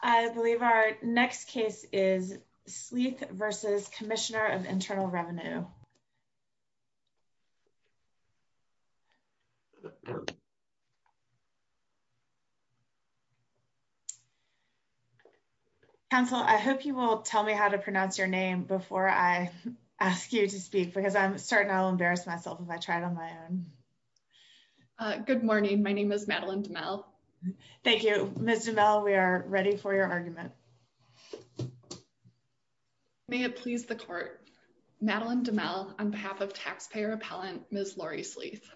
I believe our next case is Sleeth v. Commissioner of Internal Revenue. Council, I hope you will tell me how to pronounce your name before I ask you to speak because I'm starting to embarrass myself if I try it on my own. Good morning. My name is Madeline DeMell. Thank you, Ms. DeMell. We are ready for your argument. May it please the court. Madeline DeMell on behalf of taxpayer appellant Ms. Lori Sleeth.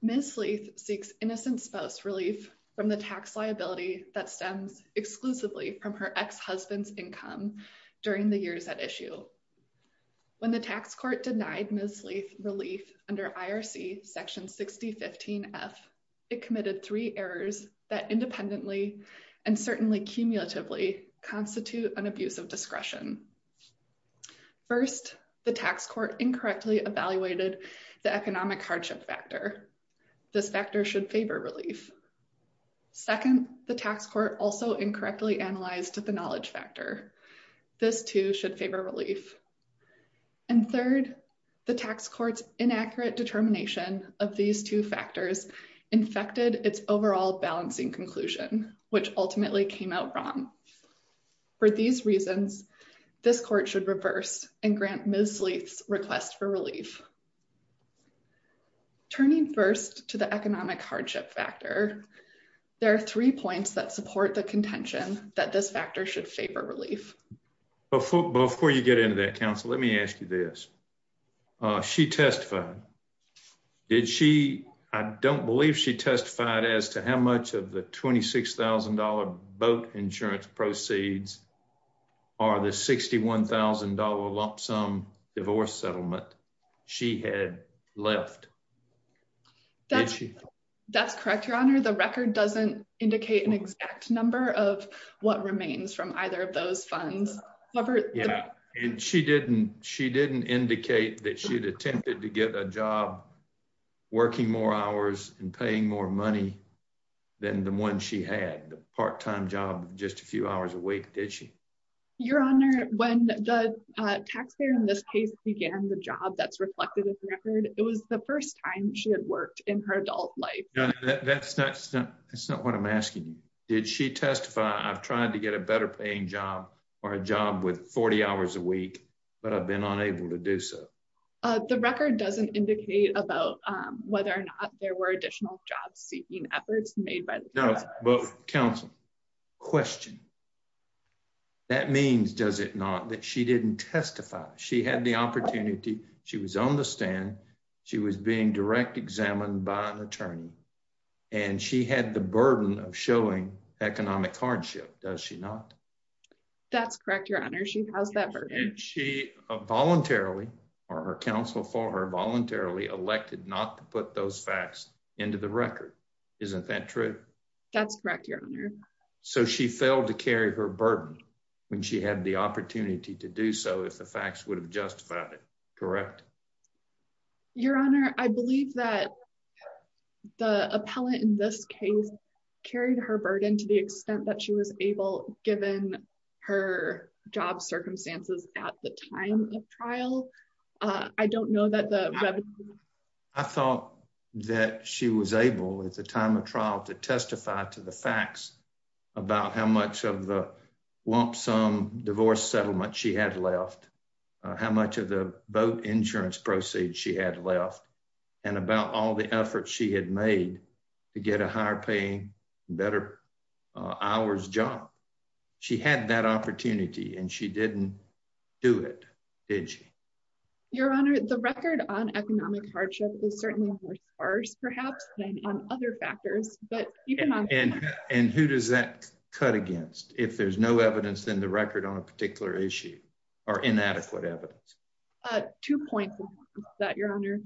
Ms. Sleeth seeks innocent spouse relief from the tax liability that stems exclusively from her ex-husband's income during the years at issue. When the tax court denied Ms. Sleeth relief under IRC section 6015f, it committed three errors that independently and certainly cumulatively constitute an abuse of discretion. First, the tax court incorrectly evaluated the economic hardship factor. This factor should favor relief. Second, the tax court also incorrectly analyzed the knowledge factor. This too should favor relief. And third, the tax court's inaccurate determination of these two factors infected its overall balancing conclusion, which ultimately came out wrong. For these reasons, this court should reverse and grant Ms. Sleeth's request for relief. Turning first to the economic hardship factor, there are three points that support the contention that this factor should favor relief. But before you get into that, counsel, let me ask you this. She testified. Did she? I don't believe she testified as to how much of the $26,000 boat insurance proceeds are the $61,000 lump sum divorce settlement she had left. That's correct, your honor. The record doesn't indicate an exact number of what remains from either of those funds. And she didn't indicate that she'd attempted to get a job working more hours and paying more money than the one she had, the part-time job just a few hours a week, did she? Your honor, when the taxpayer in this case began the job that's reflected in the record, it was the first time she had worked in her adult life. That's not what I'm asking you. Did she testify, I've tried to get a better paying job or a job with 40 hours a week, but I've been unable to do so. The record doesn't indicate about whether or not there were additional job seeking efforts made by the- No, but counsel, question. That means, does it not, that she didn't testify. She had the opportunity. She was on the stand. She was being direct examined by an attorney. And she had the burden of showing economic hardship, does she not? That's correct, your honor. She has that burden. And she voluntarily or her counsel for her voluntarily elected not to put those facts into the record. Isn't that true? That's correct, your honor. So she failed to carry her burden when she had the opportunity to do so, if the facts would have justified it, correct? Your honor, I believe that the appellant in this case carried her burden to the extent that she was able given her job circumstances at the time of trial. I don't know that the- I thought that she was able at the time of trial to testify to the facts about how much of the lump sum divorce settlement she had left, how much of the boat insurance proceeds she had left, and about all the efforts she had made to get a higher paying, better hours job. She had that opportunity and she didn't do it, did she? Your honor, the record on economic hardship is certainly more sparse perhaps than on other factors, but even on- And who does that cut against? If there's no evidence in the issue or inadequate evidence? Two points on that, your honor.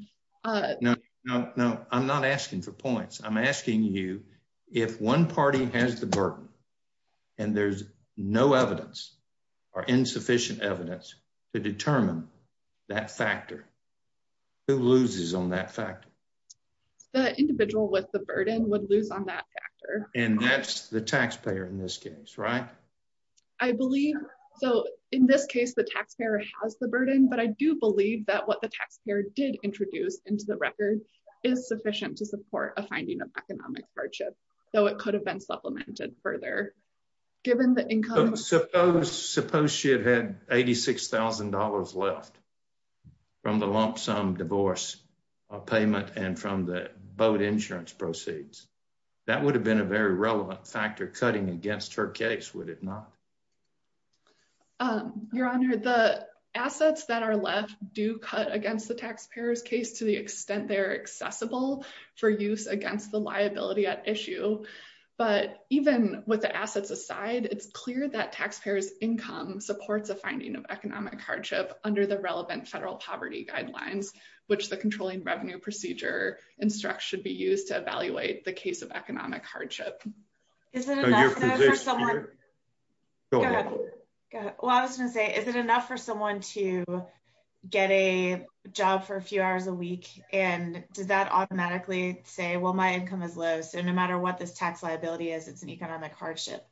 No, no, I'm not asking for points. I'm asking you if one party has the burden and there's no evidence or insufficient evidence to determine that factor, who loses on that factor? The individual with the burden would lose on that factor. And that's the taxpayer in this case, right? I believe so. In this case, the taxpayer has the burden, but I do believe that what the taxpayer did introduce into the record is sufficient to support a finding of economic hardship, though it could have been supplemented further given the income- Suppose she had had $86,000 left from the lump sum divorce or payment and from the boat insurance proceeds. That would have been a very relevant factor cutting against her case, would it not? Your honor, the assets that are left do cut against the taxpayer's case to the extent they're accessible for use against the liability at issue. But even with the assets aside, it's clear that taxpayer's income supports a finding of economic hardship under the relevant federal poverty guidelines, which the controlling revenue procedure instructs should be used to evaluate the case of economic hardship. Is it enough for someone to get a job for a few hours a week? And does that automatically say, well, my income is low. So no matter what this tax liability is, it's an economic hardship.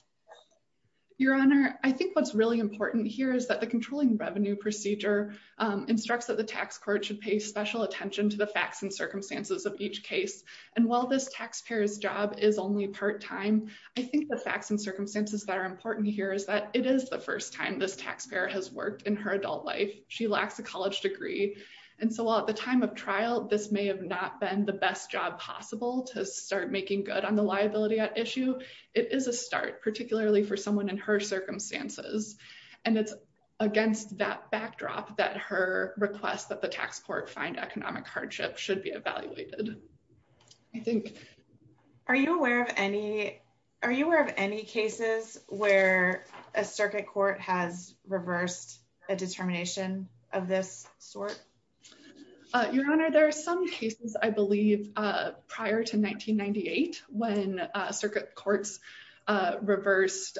Your honor, I think what's really important here is that the controlling court should pay special attention to the facts and circumstances of each case. And while this taxpayer's job is only part-time, I think the facts and circumstances that are important here is that it is the first time this taxpayer has worked in her adult life. She lacks a college degree. And so while at the time of trial, this may have not been the best job possible to start making good on the liability at issue, it is a start, particularly for someone in her circumstances. And it's against that backdrop that her request that the tax court find economic hardship should be evaluated. Are you aware of any cases where a circuit court has reversed a determination of this sort? Your honor, there are some cases, I believe, prior to 1998 when circuit courts reversed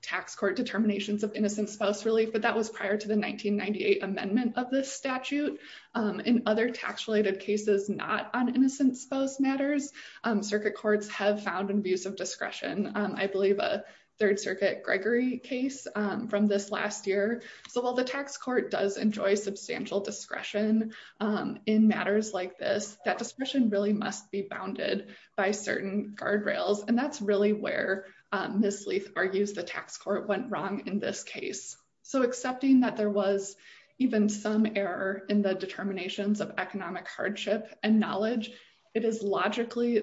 tax court determinations of innocent spouse relief, but that was prior to the 1998 amendment of this statute. In other tax-related cases, not on innocent spouse matters, circuit courts have found an abuse of discretion. I believe a Third Circuit Gregory case from this last year. So while the tax court does enjoy substantial discretion in matters like this, that discretion really must be bounded by certain guardrails. And that's really where Ms. Leith argues the tax court went wrong in this case. So accepting that there was even some error in the determinations of economic hardship and knowledge, it is logically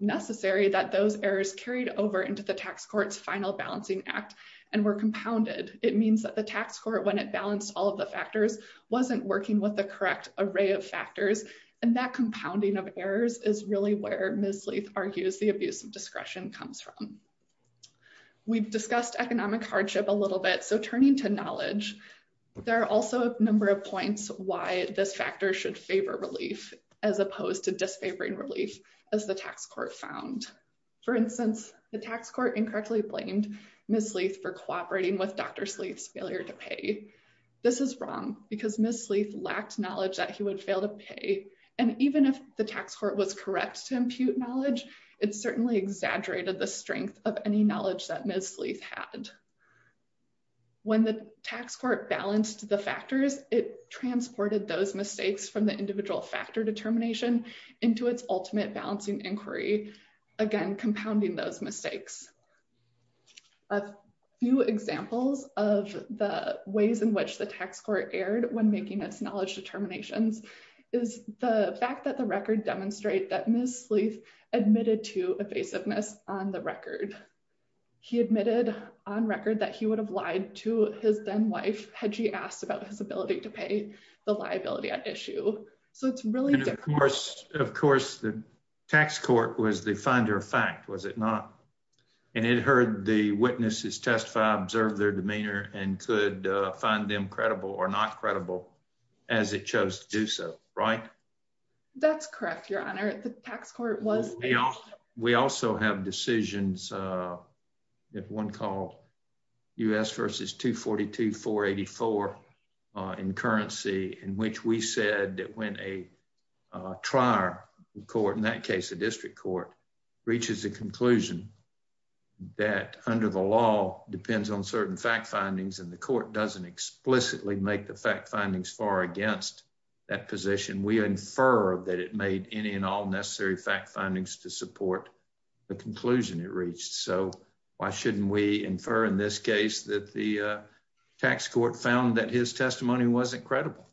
necessary that those errors carried over into the tax court's final balancing act and were compounded. It means that the tax court, when it balanced all of the factors, wasn't working with the correct array of factors. And that compounding of errors is really where Ms. Leith argues the abuse of discretion comes from. We've discussed economic hardship a little bit. So turning to knowledge, there are also a number of points why this factor should favor relief as opposed to disfavoring relief as the tax court found. For instance, the tax court incorrectly blamed Ms. Leith for cooperating with Dr. Leith's failure to pay. This is wrong because Ms. Leith lacked knowledge that he would fail to pay. And even if the tax court was correct to impute knowledge, it certainly exaggerated the strength of any knowledge that Ms. Leith had. When the tax court balanced the factors, it transported those mistakes from the individual factor determination into its ultimate balancing inquiry, again, compounding those mistakes. A few examples of the ways in which the tax court erred when making its knowledge determinations is the fact that the record demonstrate that Ms. Leith admitted to evasiveness on the record. He admitted on record that he would have lied to his then-wife had she asked about his ability to pay the liability at issue. So it's really different. Of course, the tax court was the the witnesses testify, observe their demeanor, and could find them credible or not credible as it chose to do so, right? That's correct, Your Honor. The tax court was. We also have decisions, one called U.S. versus 242-484 in currency in which we said that when a court, in that case a district court, reaches a conclusion that under the law depends on certain fact findings and the court doesn't explicitly make the fact findings far against that position, we infer that it made any and all necessary fact findings to support the conclusion it reached. So why shouldn't we infer in this case that the tax court found that his testimony wasn't credible?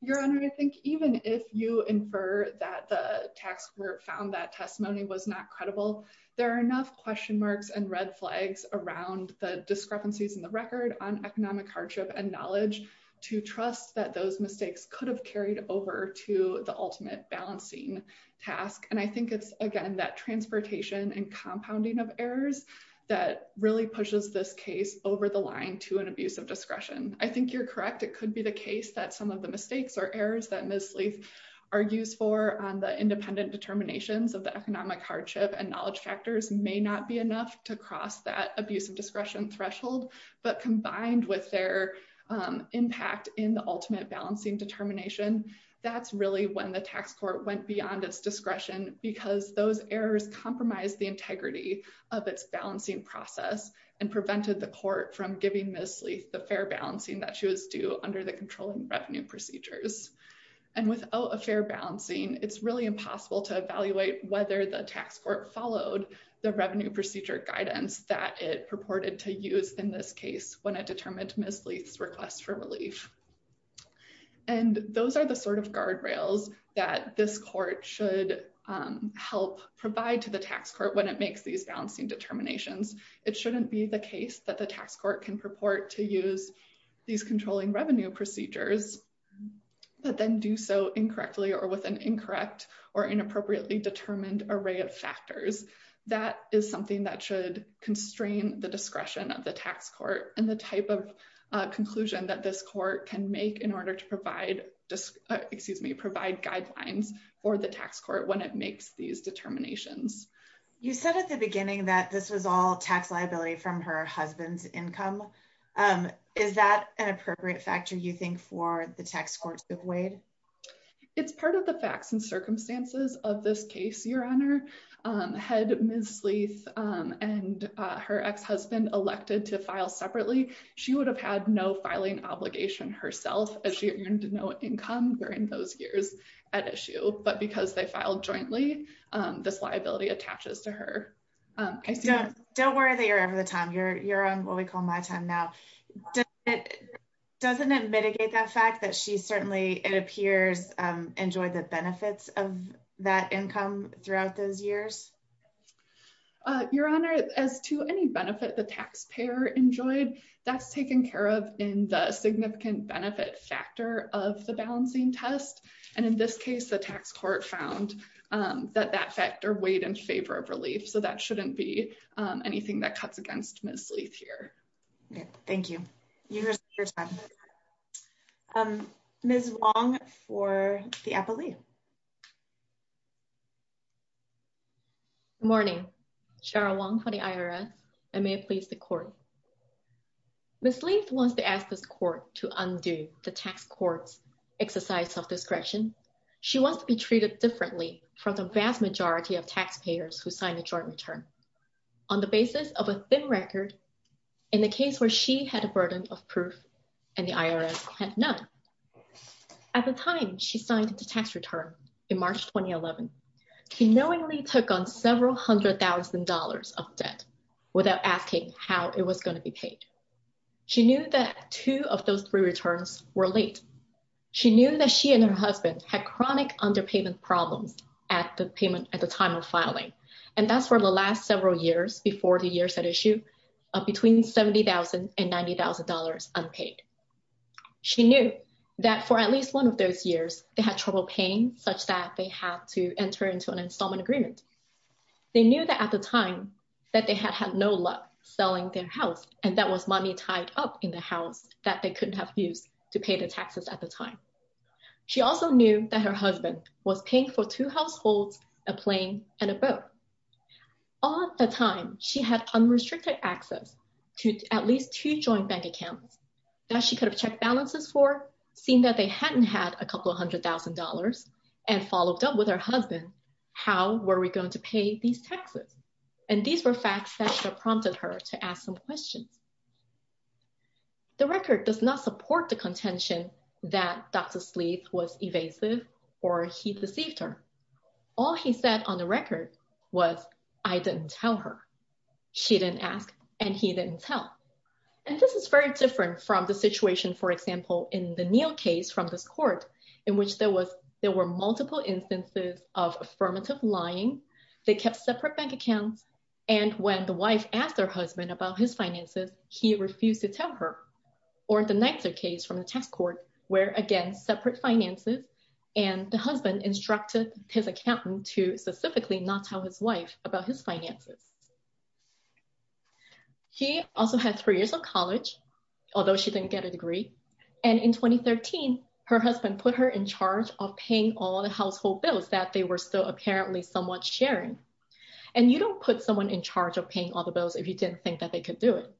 Your Honor, I think even if you infer that the tax court found that testimony was not credible, there are enough question marks and red flags around the discrepancies in the record on economic hardship and knowledge to trust that those mistakes could have carried over to the ultimate balancing task. And I think it's, again, that transportation and compounding of errors that really pushes this case over the line to an abuse of discretion. I think you're correct, it could be the case that some of the mistakes or errors that Ms. Sleeth argues for on the independent determinations of the economic hardship and knowledge factors may not be enough to cross that abuse of discretion threshold, but combined with their impact in the ultimate balancing determination, that's really when the tax court went beyond its discretion because those errors compromised the integrity of its balancing process and under the controlling revenue procedures. And without a fair balancing, it's really impossible to evaluate whether the tax court followed the revenue procedure guidance that it purported to use in this case when it determined Ms. Sleeth's request for relief. And those are the sort of guardrails that this court should help provide to the tax court when it makes these balancing determinations. It shouldn't be the case that the tax court can purport to use these controlling revenue procedures, but then do so incorrectly or with an incorrect or inappropriately determined array of factors. That is something that should constrain the discretion of the tax court and the type of conclusion that this court can make in order to provide, excuse me, provide guidelines for the tax court when it makes these determinations. You said at the beginning that this is all tax liability from her husband's income. Is that an appropriate factor you think for the tax courts of Wade? It's part of the facts and circumstances of this case, your honor. Had Ms. Sleeth and her ex-husband elected to file separately, she would have had no filing obligation herself as she earned no income during those years at issue. But because they filed jointly, this liability attaches to her. Don't worry that you're over the time. You're on what we call my time now. Doesn't it mitigate that fact that she certainly, it appears, enjoyed the benefits of that income throughout those years? Your honor, as to any benefit the taxpayer enjoyed, that's taken care of in the significant benefit factor of the balancing test. And in this case, the tax court found that that factor weighed in favor of relief. So that shouldn't be anything that cuts against Ms. Sleeth here. Thank you. You have your time. Ms. Wong for the appellee. Good morning. Cheryl Wong for the IRS. I may please the court. Ms. Sleeth wants to ask this question. She wants to be treated differently from the vast majority of taxpayers who signed a joint return on the basis of a thin record in the case where she had a burden of proof and the IRS had none. At the time she signed the tax return in March, 2011, she knowingly took on several hundred thousand dollars of debt without asking how it was going to be paid. She knew that two of those three returns were late. She knew that she and her husband had chronic underpayment problems at the payment at the time of filing. And that's where the last several years before the years at issue, between $70,000 and $90,000 unpaid. She knew that for at least one of those years, they had trouble paying such that they had to enter into an installment agreement. They knew that at the time that they had had no luck selling their house and that was money tied up in the house that they couldn't have used to pay the taxes at the time. She also knew that her husband was paying for two households, a plane and a boat. All the time she had unrestricted access to at least two joint bank accounts that she could have checked balances for seeing that they hadn't had a couple of hundred thousand dollars and followed up with her husband. How were we going to pay these taxes? And these were facts that prompted her to ask some questions. The record does not support the contention that Dr. Sleeth was evasive or he deceived her. All he said on the record was, I didn't tell her. She didn't ask and he didn't tell. And this is very different from the situation, for example, in the Neal case from this court, in which there were multiple instances of affirmative lying. They kept separate bank accounts and when the wife asked her husband about his finances, he refused to tell her. Or the Nizer case from the tax court, where again separate finances and the husband instructed his accountant to specifically not tell his wife about his finances. She also had three years of college, although she didn't get a household bills that they were still apparently somewhat sharing. And you don't put someone in charge of paying all the bills if you didn't think that they could do it.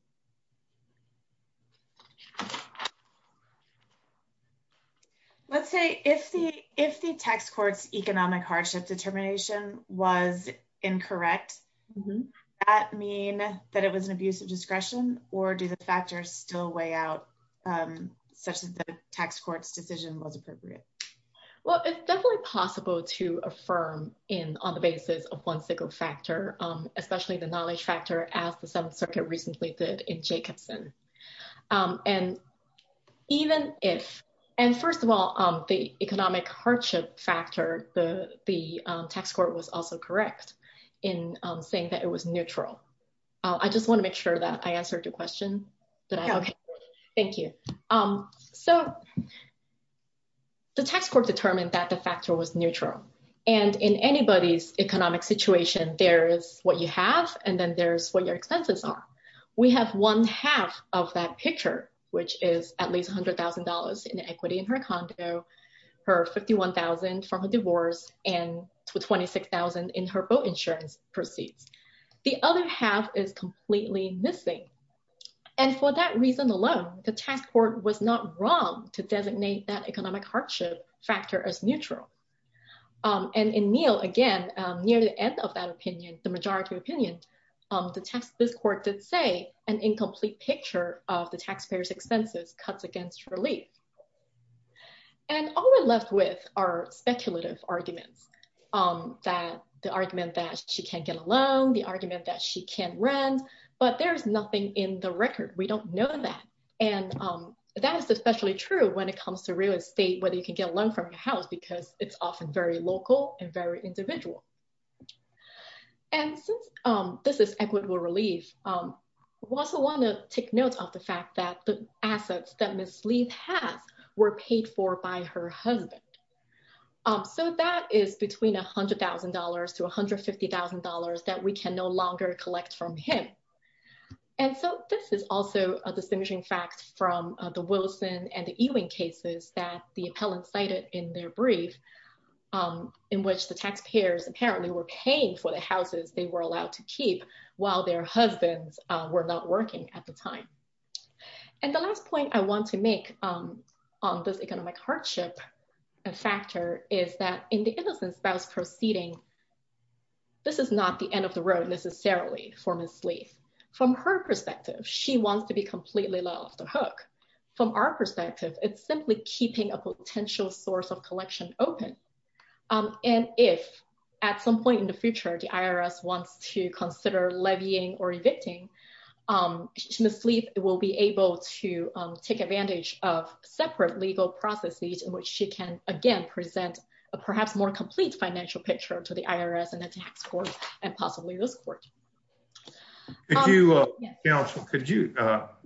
Let's say if the if the tax court's economic hardship determination was incorrect, that mean that it was an abuse of discretion or do the factors still weigh out such as the tax court's was appropriate? Well, it's definitely possible to affirm in on the basis of one single factor, especially the knowledge factor as the Seventh Circuit recently did in Jacobson. And even if, and first of all, the economic hardship factor, the the tax court was also correct in saying that it was neutral. I just want to make sure that I answered your question. Okay, thank you. So the tax court determined that the factor was neutral. And in anybody's economic situation, there is what you have. And then there's what your expenses are. We have one half of that picture, which is at least $100,000 in equity in her condo, her 51,000 from a divorce and 26,000 in her boat insurance proceeds. The other half is completely missing. And for that reason alone, the tax court was not wrong to designate that economic hardship factor as neutral. And in Neil, again, near the end of that opinion, the majority opinion, the text, this court did say an incomplete picture of the taxpayers expenses cuts against relief. And all we're left with are speculative arguments, that the argument that she can't get a loan, the argument that she can't rent, but there's nothing in the record, we don't know that. And that is especially true when it comes to real estate, whether you can get a loan from your house, because it's often very local and very individual. And since this is equitable relief, we also want to take note of the fact that the assets that Ms. Lee has were paid for by her that we can no longer collect from him. And so this is also a distinguishing fact from the Wilson and Ewing cases that the appellant cited in their brief, in which the taxpayers apparently were paying for the houses they were allowed to keep while their husbands were not working at the time. And the last point I want to make on this economic hardship factor is that in innocent spouse proceeding, this is not the end of the road necessarily for Ms. Lee. From her perspective, she wants to be completely let off the hook. From our perspective, it's simply keeping a potential source of collection open. And if at some point in the future, the IRS wants to consider levying or evicting, Ms. Lee will be able to take advantage of separate legal processes in which she again present a perhaps more complete financial picture to the IRS and the tax court and possibly this court. Counsel, could you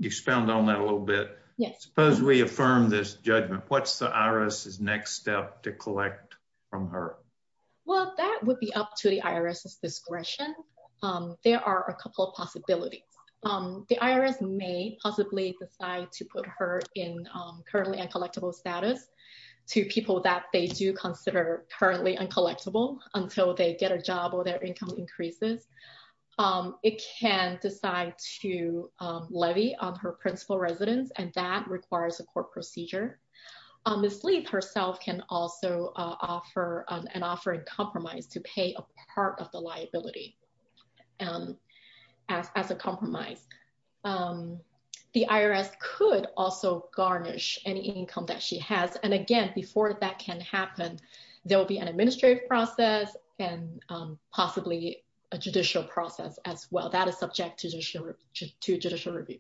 expound on that a little bit? Suppose we affirm this judgment, what's the IRS's next step to collect from her? Well, that would be up to the IRS's discretion. There are a couple of possibilities. The IRS may possibly decide to put her in currently uncollectible status to people that they do consider currently uncollectible until they get a job or their income increases. It can decide to levy on her principal residence and that requires a court procedure. Ms. Lee herself can also offer an offering compromise to pay a part of the income that she has. And again, before that can happen, there will be an administrative process and possibly a judicial process as well that is subject to judicial review.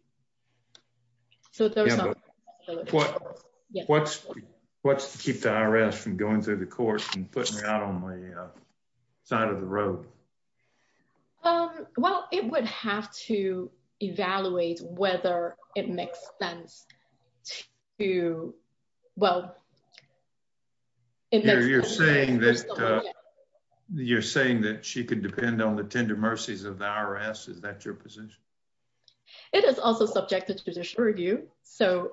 What's to keep the IRS from going through the court and putting her out on the side of the road? Well, it would have to evaluate whether it makes sense to, well, you're saying that she could depend on the tender mercies of the IRS. Is that your position? It is also subjected to judicial review. So,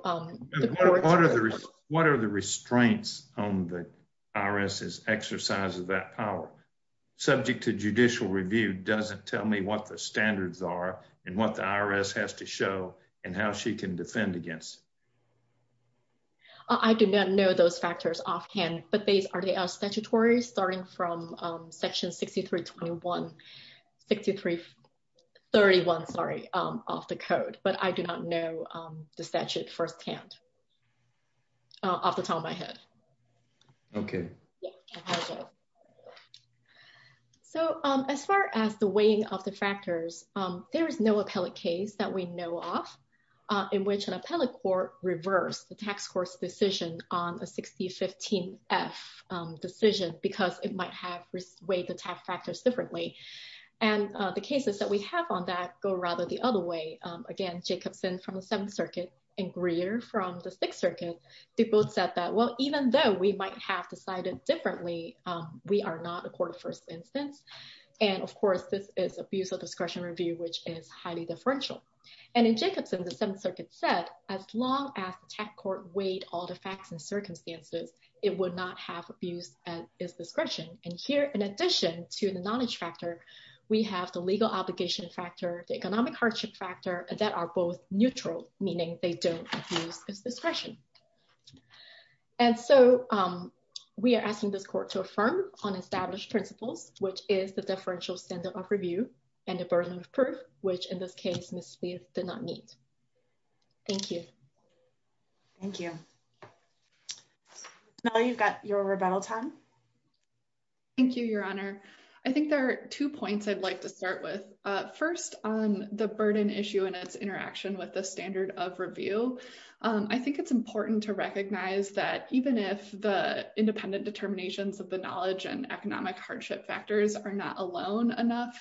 what are the restraints on the exercise of that power? Subject to judicial review doesn't tell me what the standards are and what the IRS has to show and how she can defend against it. I do not know those factors offhand, but they are statutory starting from section 6331 of the code, but I do not know the statute firsthand off the top of my head. Okay. So, as far as the weighing of the factors, there is no appellate case that we know of in which an appellate court reversed the tax court's decision on a 6015-F decision because it might have weighed the tax factors differently. And the cases that we have on that go rather the other way. Again, Jacobson from the Seventh Circuit and Greer from the Sixth Circuit, they both said that, well, even though we might have decided differently, we are not a court of first instance. And of course, this is abuse of discretion review, which is highly differential. And in Jacobson, the Seventh Circuit said, as long as the tax court weighed all the facts and circumstances, it would not have abuse at its discretion. And here, in addition to the knowledge factor, we have the legal obligation factor, the economic hardship factor that are both neutral, meaning they don't abuse its discretion. And so, we are asking this court to affirm on established principles, which is the differential standard of review and the burden of proof, which in this case, Ms. Spieth did not meet. Thank you. Thank you. Mel, you've got your rebuttal time. Thank you, Your Honor. I think there are two points I'd like to start with. First, on the burden issue and its interaction with the standard of review, I think it's important to recognize that even if the independent determinations of the knowledge and economic hardship factors are not alone enough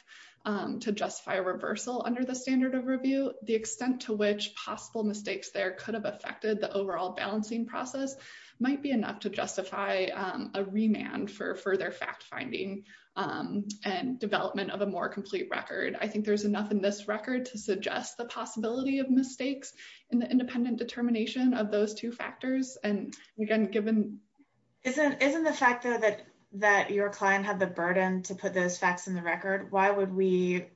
to justify a reversal under the standard of review, the extent to which possible mistakes there could have affected the overall balancing process might be enough to justify a remand for further fact-finding and development of a more complete record. I think there's enough in this record to suggest the possibility of mistakes in the independent determination of those two factors. And again, given— Isn't the fact, though, that your client had the burden to put those facts in the record, why would we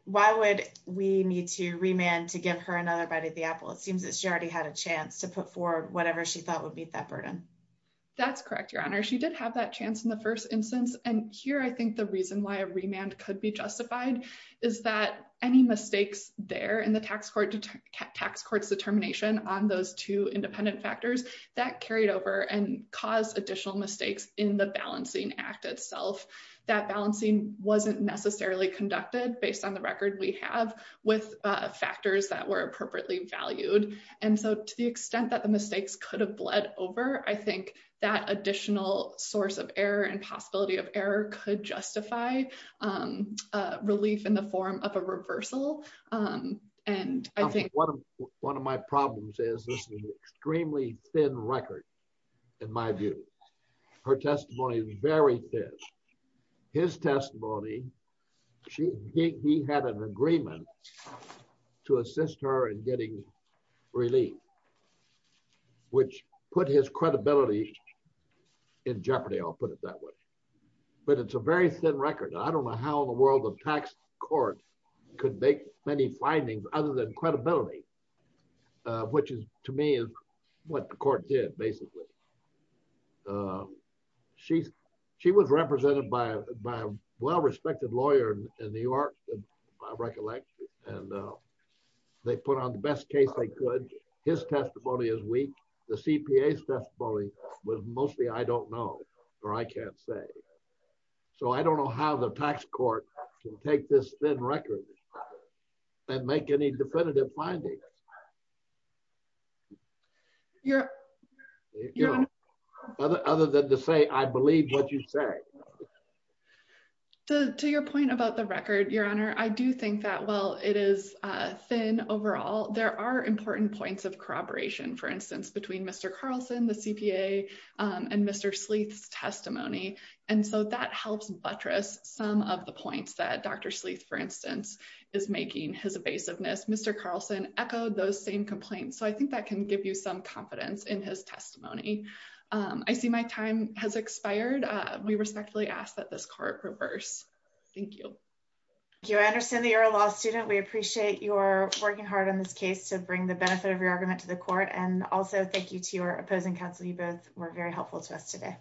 need to remand to give her another bite of the apple? It seems that she already had a chance to put forward whatever she thought would meet that burden. That's correct, Your Honor. She did have that chance in the first instance. And here, I think reason why a remand could be justified is that any mistakes there in the tax court's determination on those two independent factors, that carried over and caused additional mistakes in the balancing act itself. That balancing wasn't necessarily conducted based on the record we have with factors that were appropriately valued. And so, to the extent that the mistakes could bled over, I think that additional source of error and possibility of error could justify relief in the form of a reversal. And I think— One of my problems is this is an extremely thin record, in my view. Her testimony is very thin. His testimony, he had an agreement to assist her in getting relief, which put his credibility in jeopardy, I'll put it that way. But it's a very thin record. I don't know how in the world a tax court could make many findings other than credibility, which is to me is what the court did, basically. She was represented by a well-respected lawyer in New York, by recollection, and they put on the best case they could. His testimony is weak. The CPA's testimony was mostly I don't know, or I can't say. So, I don't know how the tax court can take this thin record and make any definitive findings, other than to say, I believe what you say. To your point about the record, Your Honor, I do think that while it is thin overall, there are important points of corroboration, for instance, between Mr. Carlson, the CPA, and Mr. Sleeth's testimony. And so, that helps buttress some of the points that Dr. Sleeth, for instance, is making, his evasiveness. Mr. Carlson echoed those same complaints, so I think that can give you some confidence in his testimony. I see my time has expired. We respectfully ask that this court reverse. Thank you. Thank you. I understand that you're a law student. We appreciate your working hard on this case to bring the benefit of your argument to the court. And also, thank you to your opposing counsel. You both were very helpful to us today.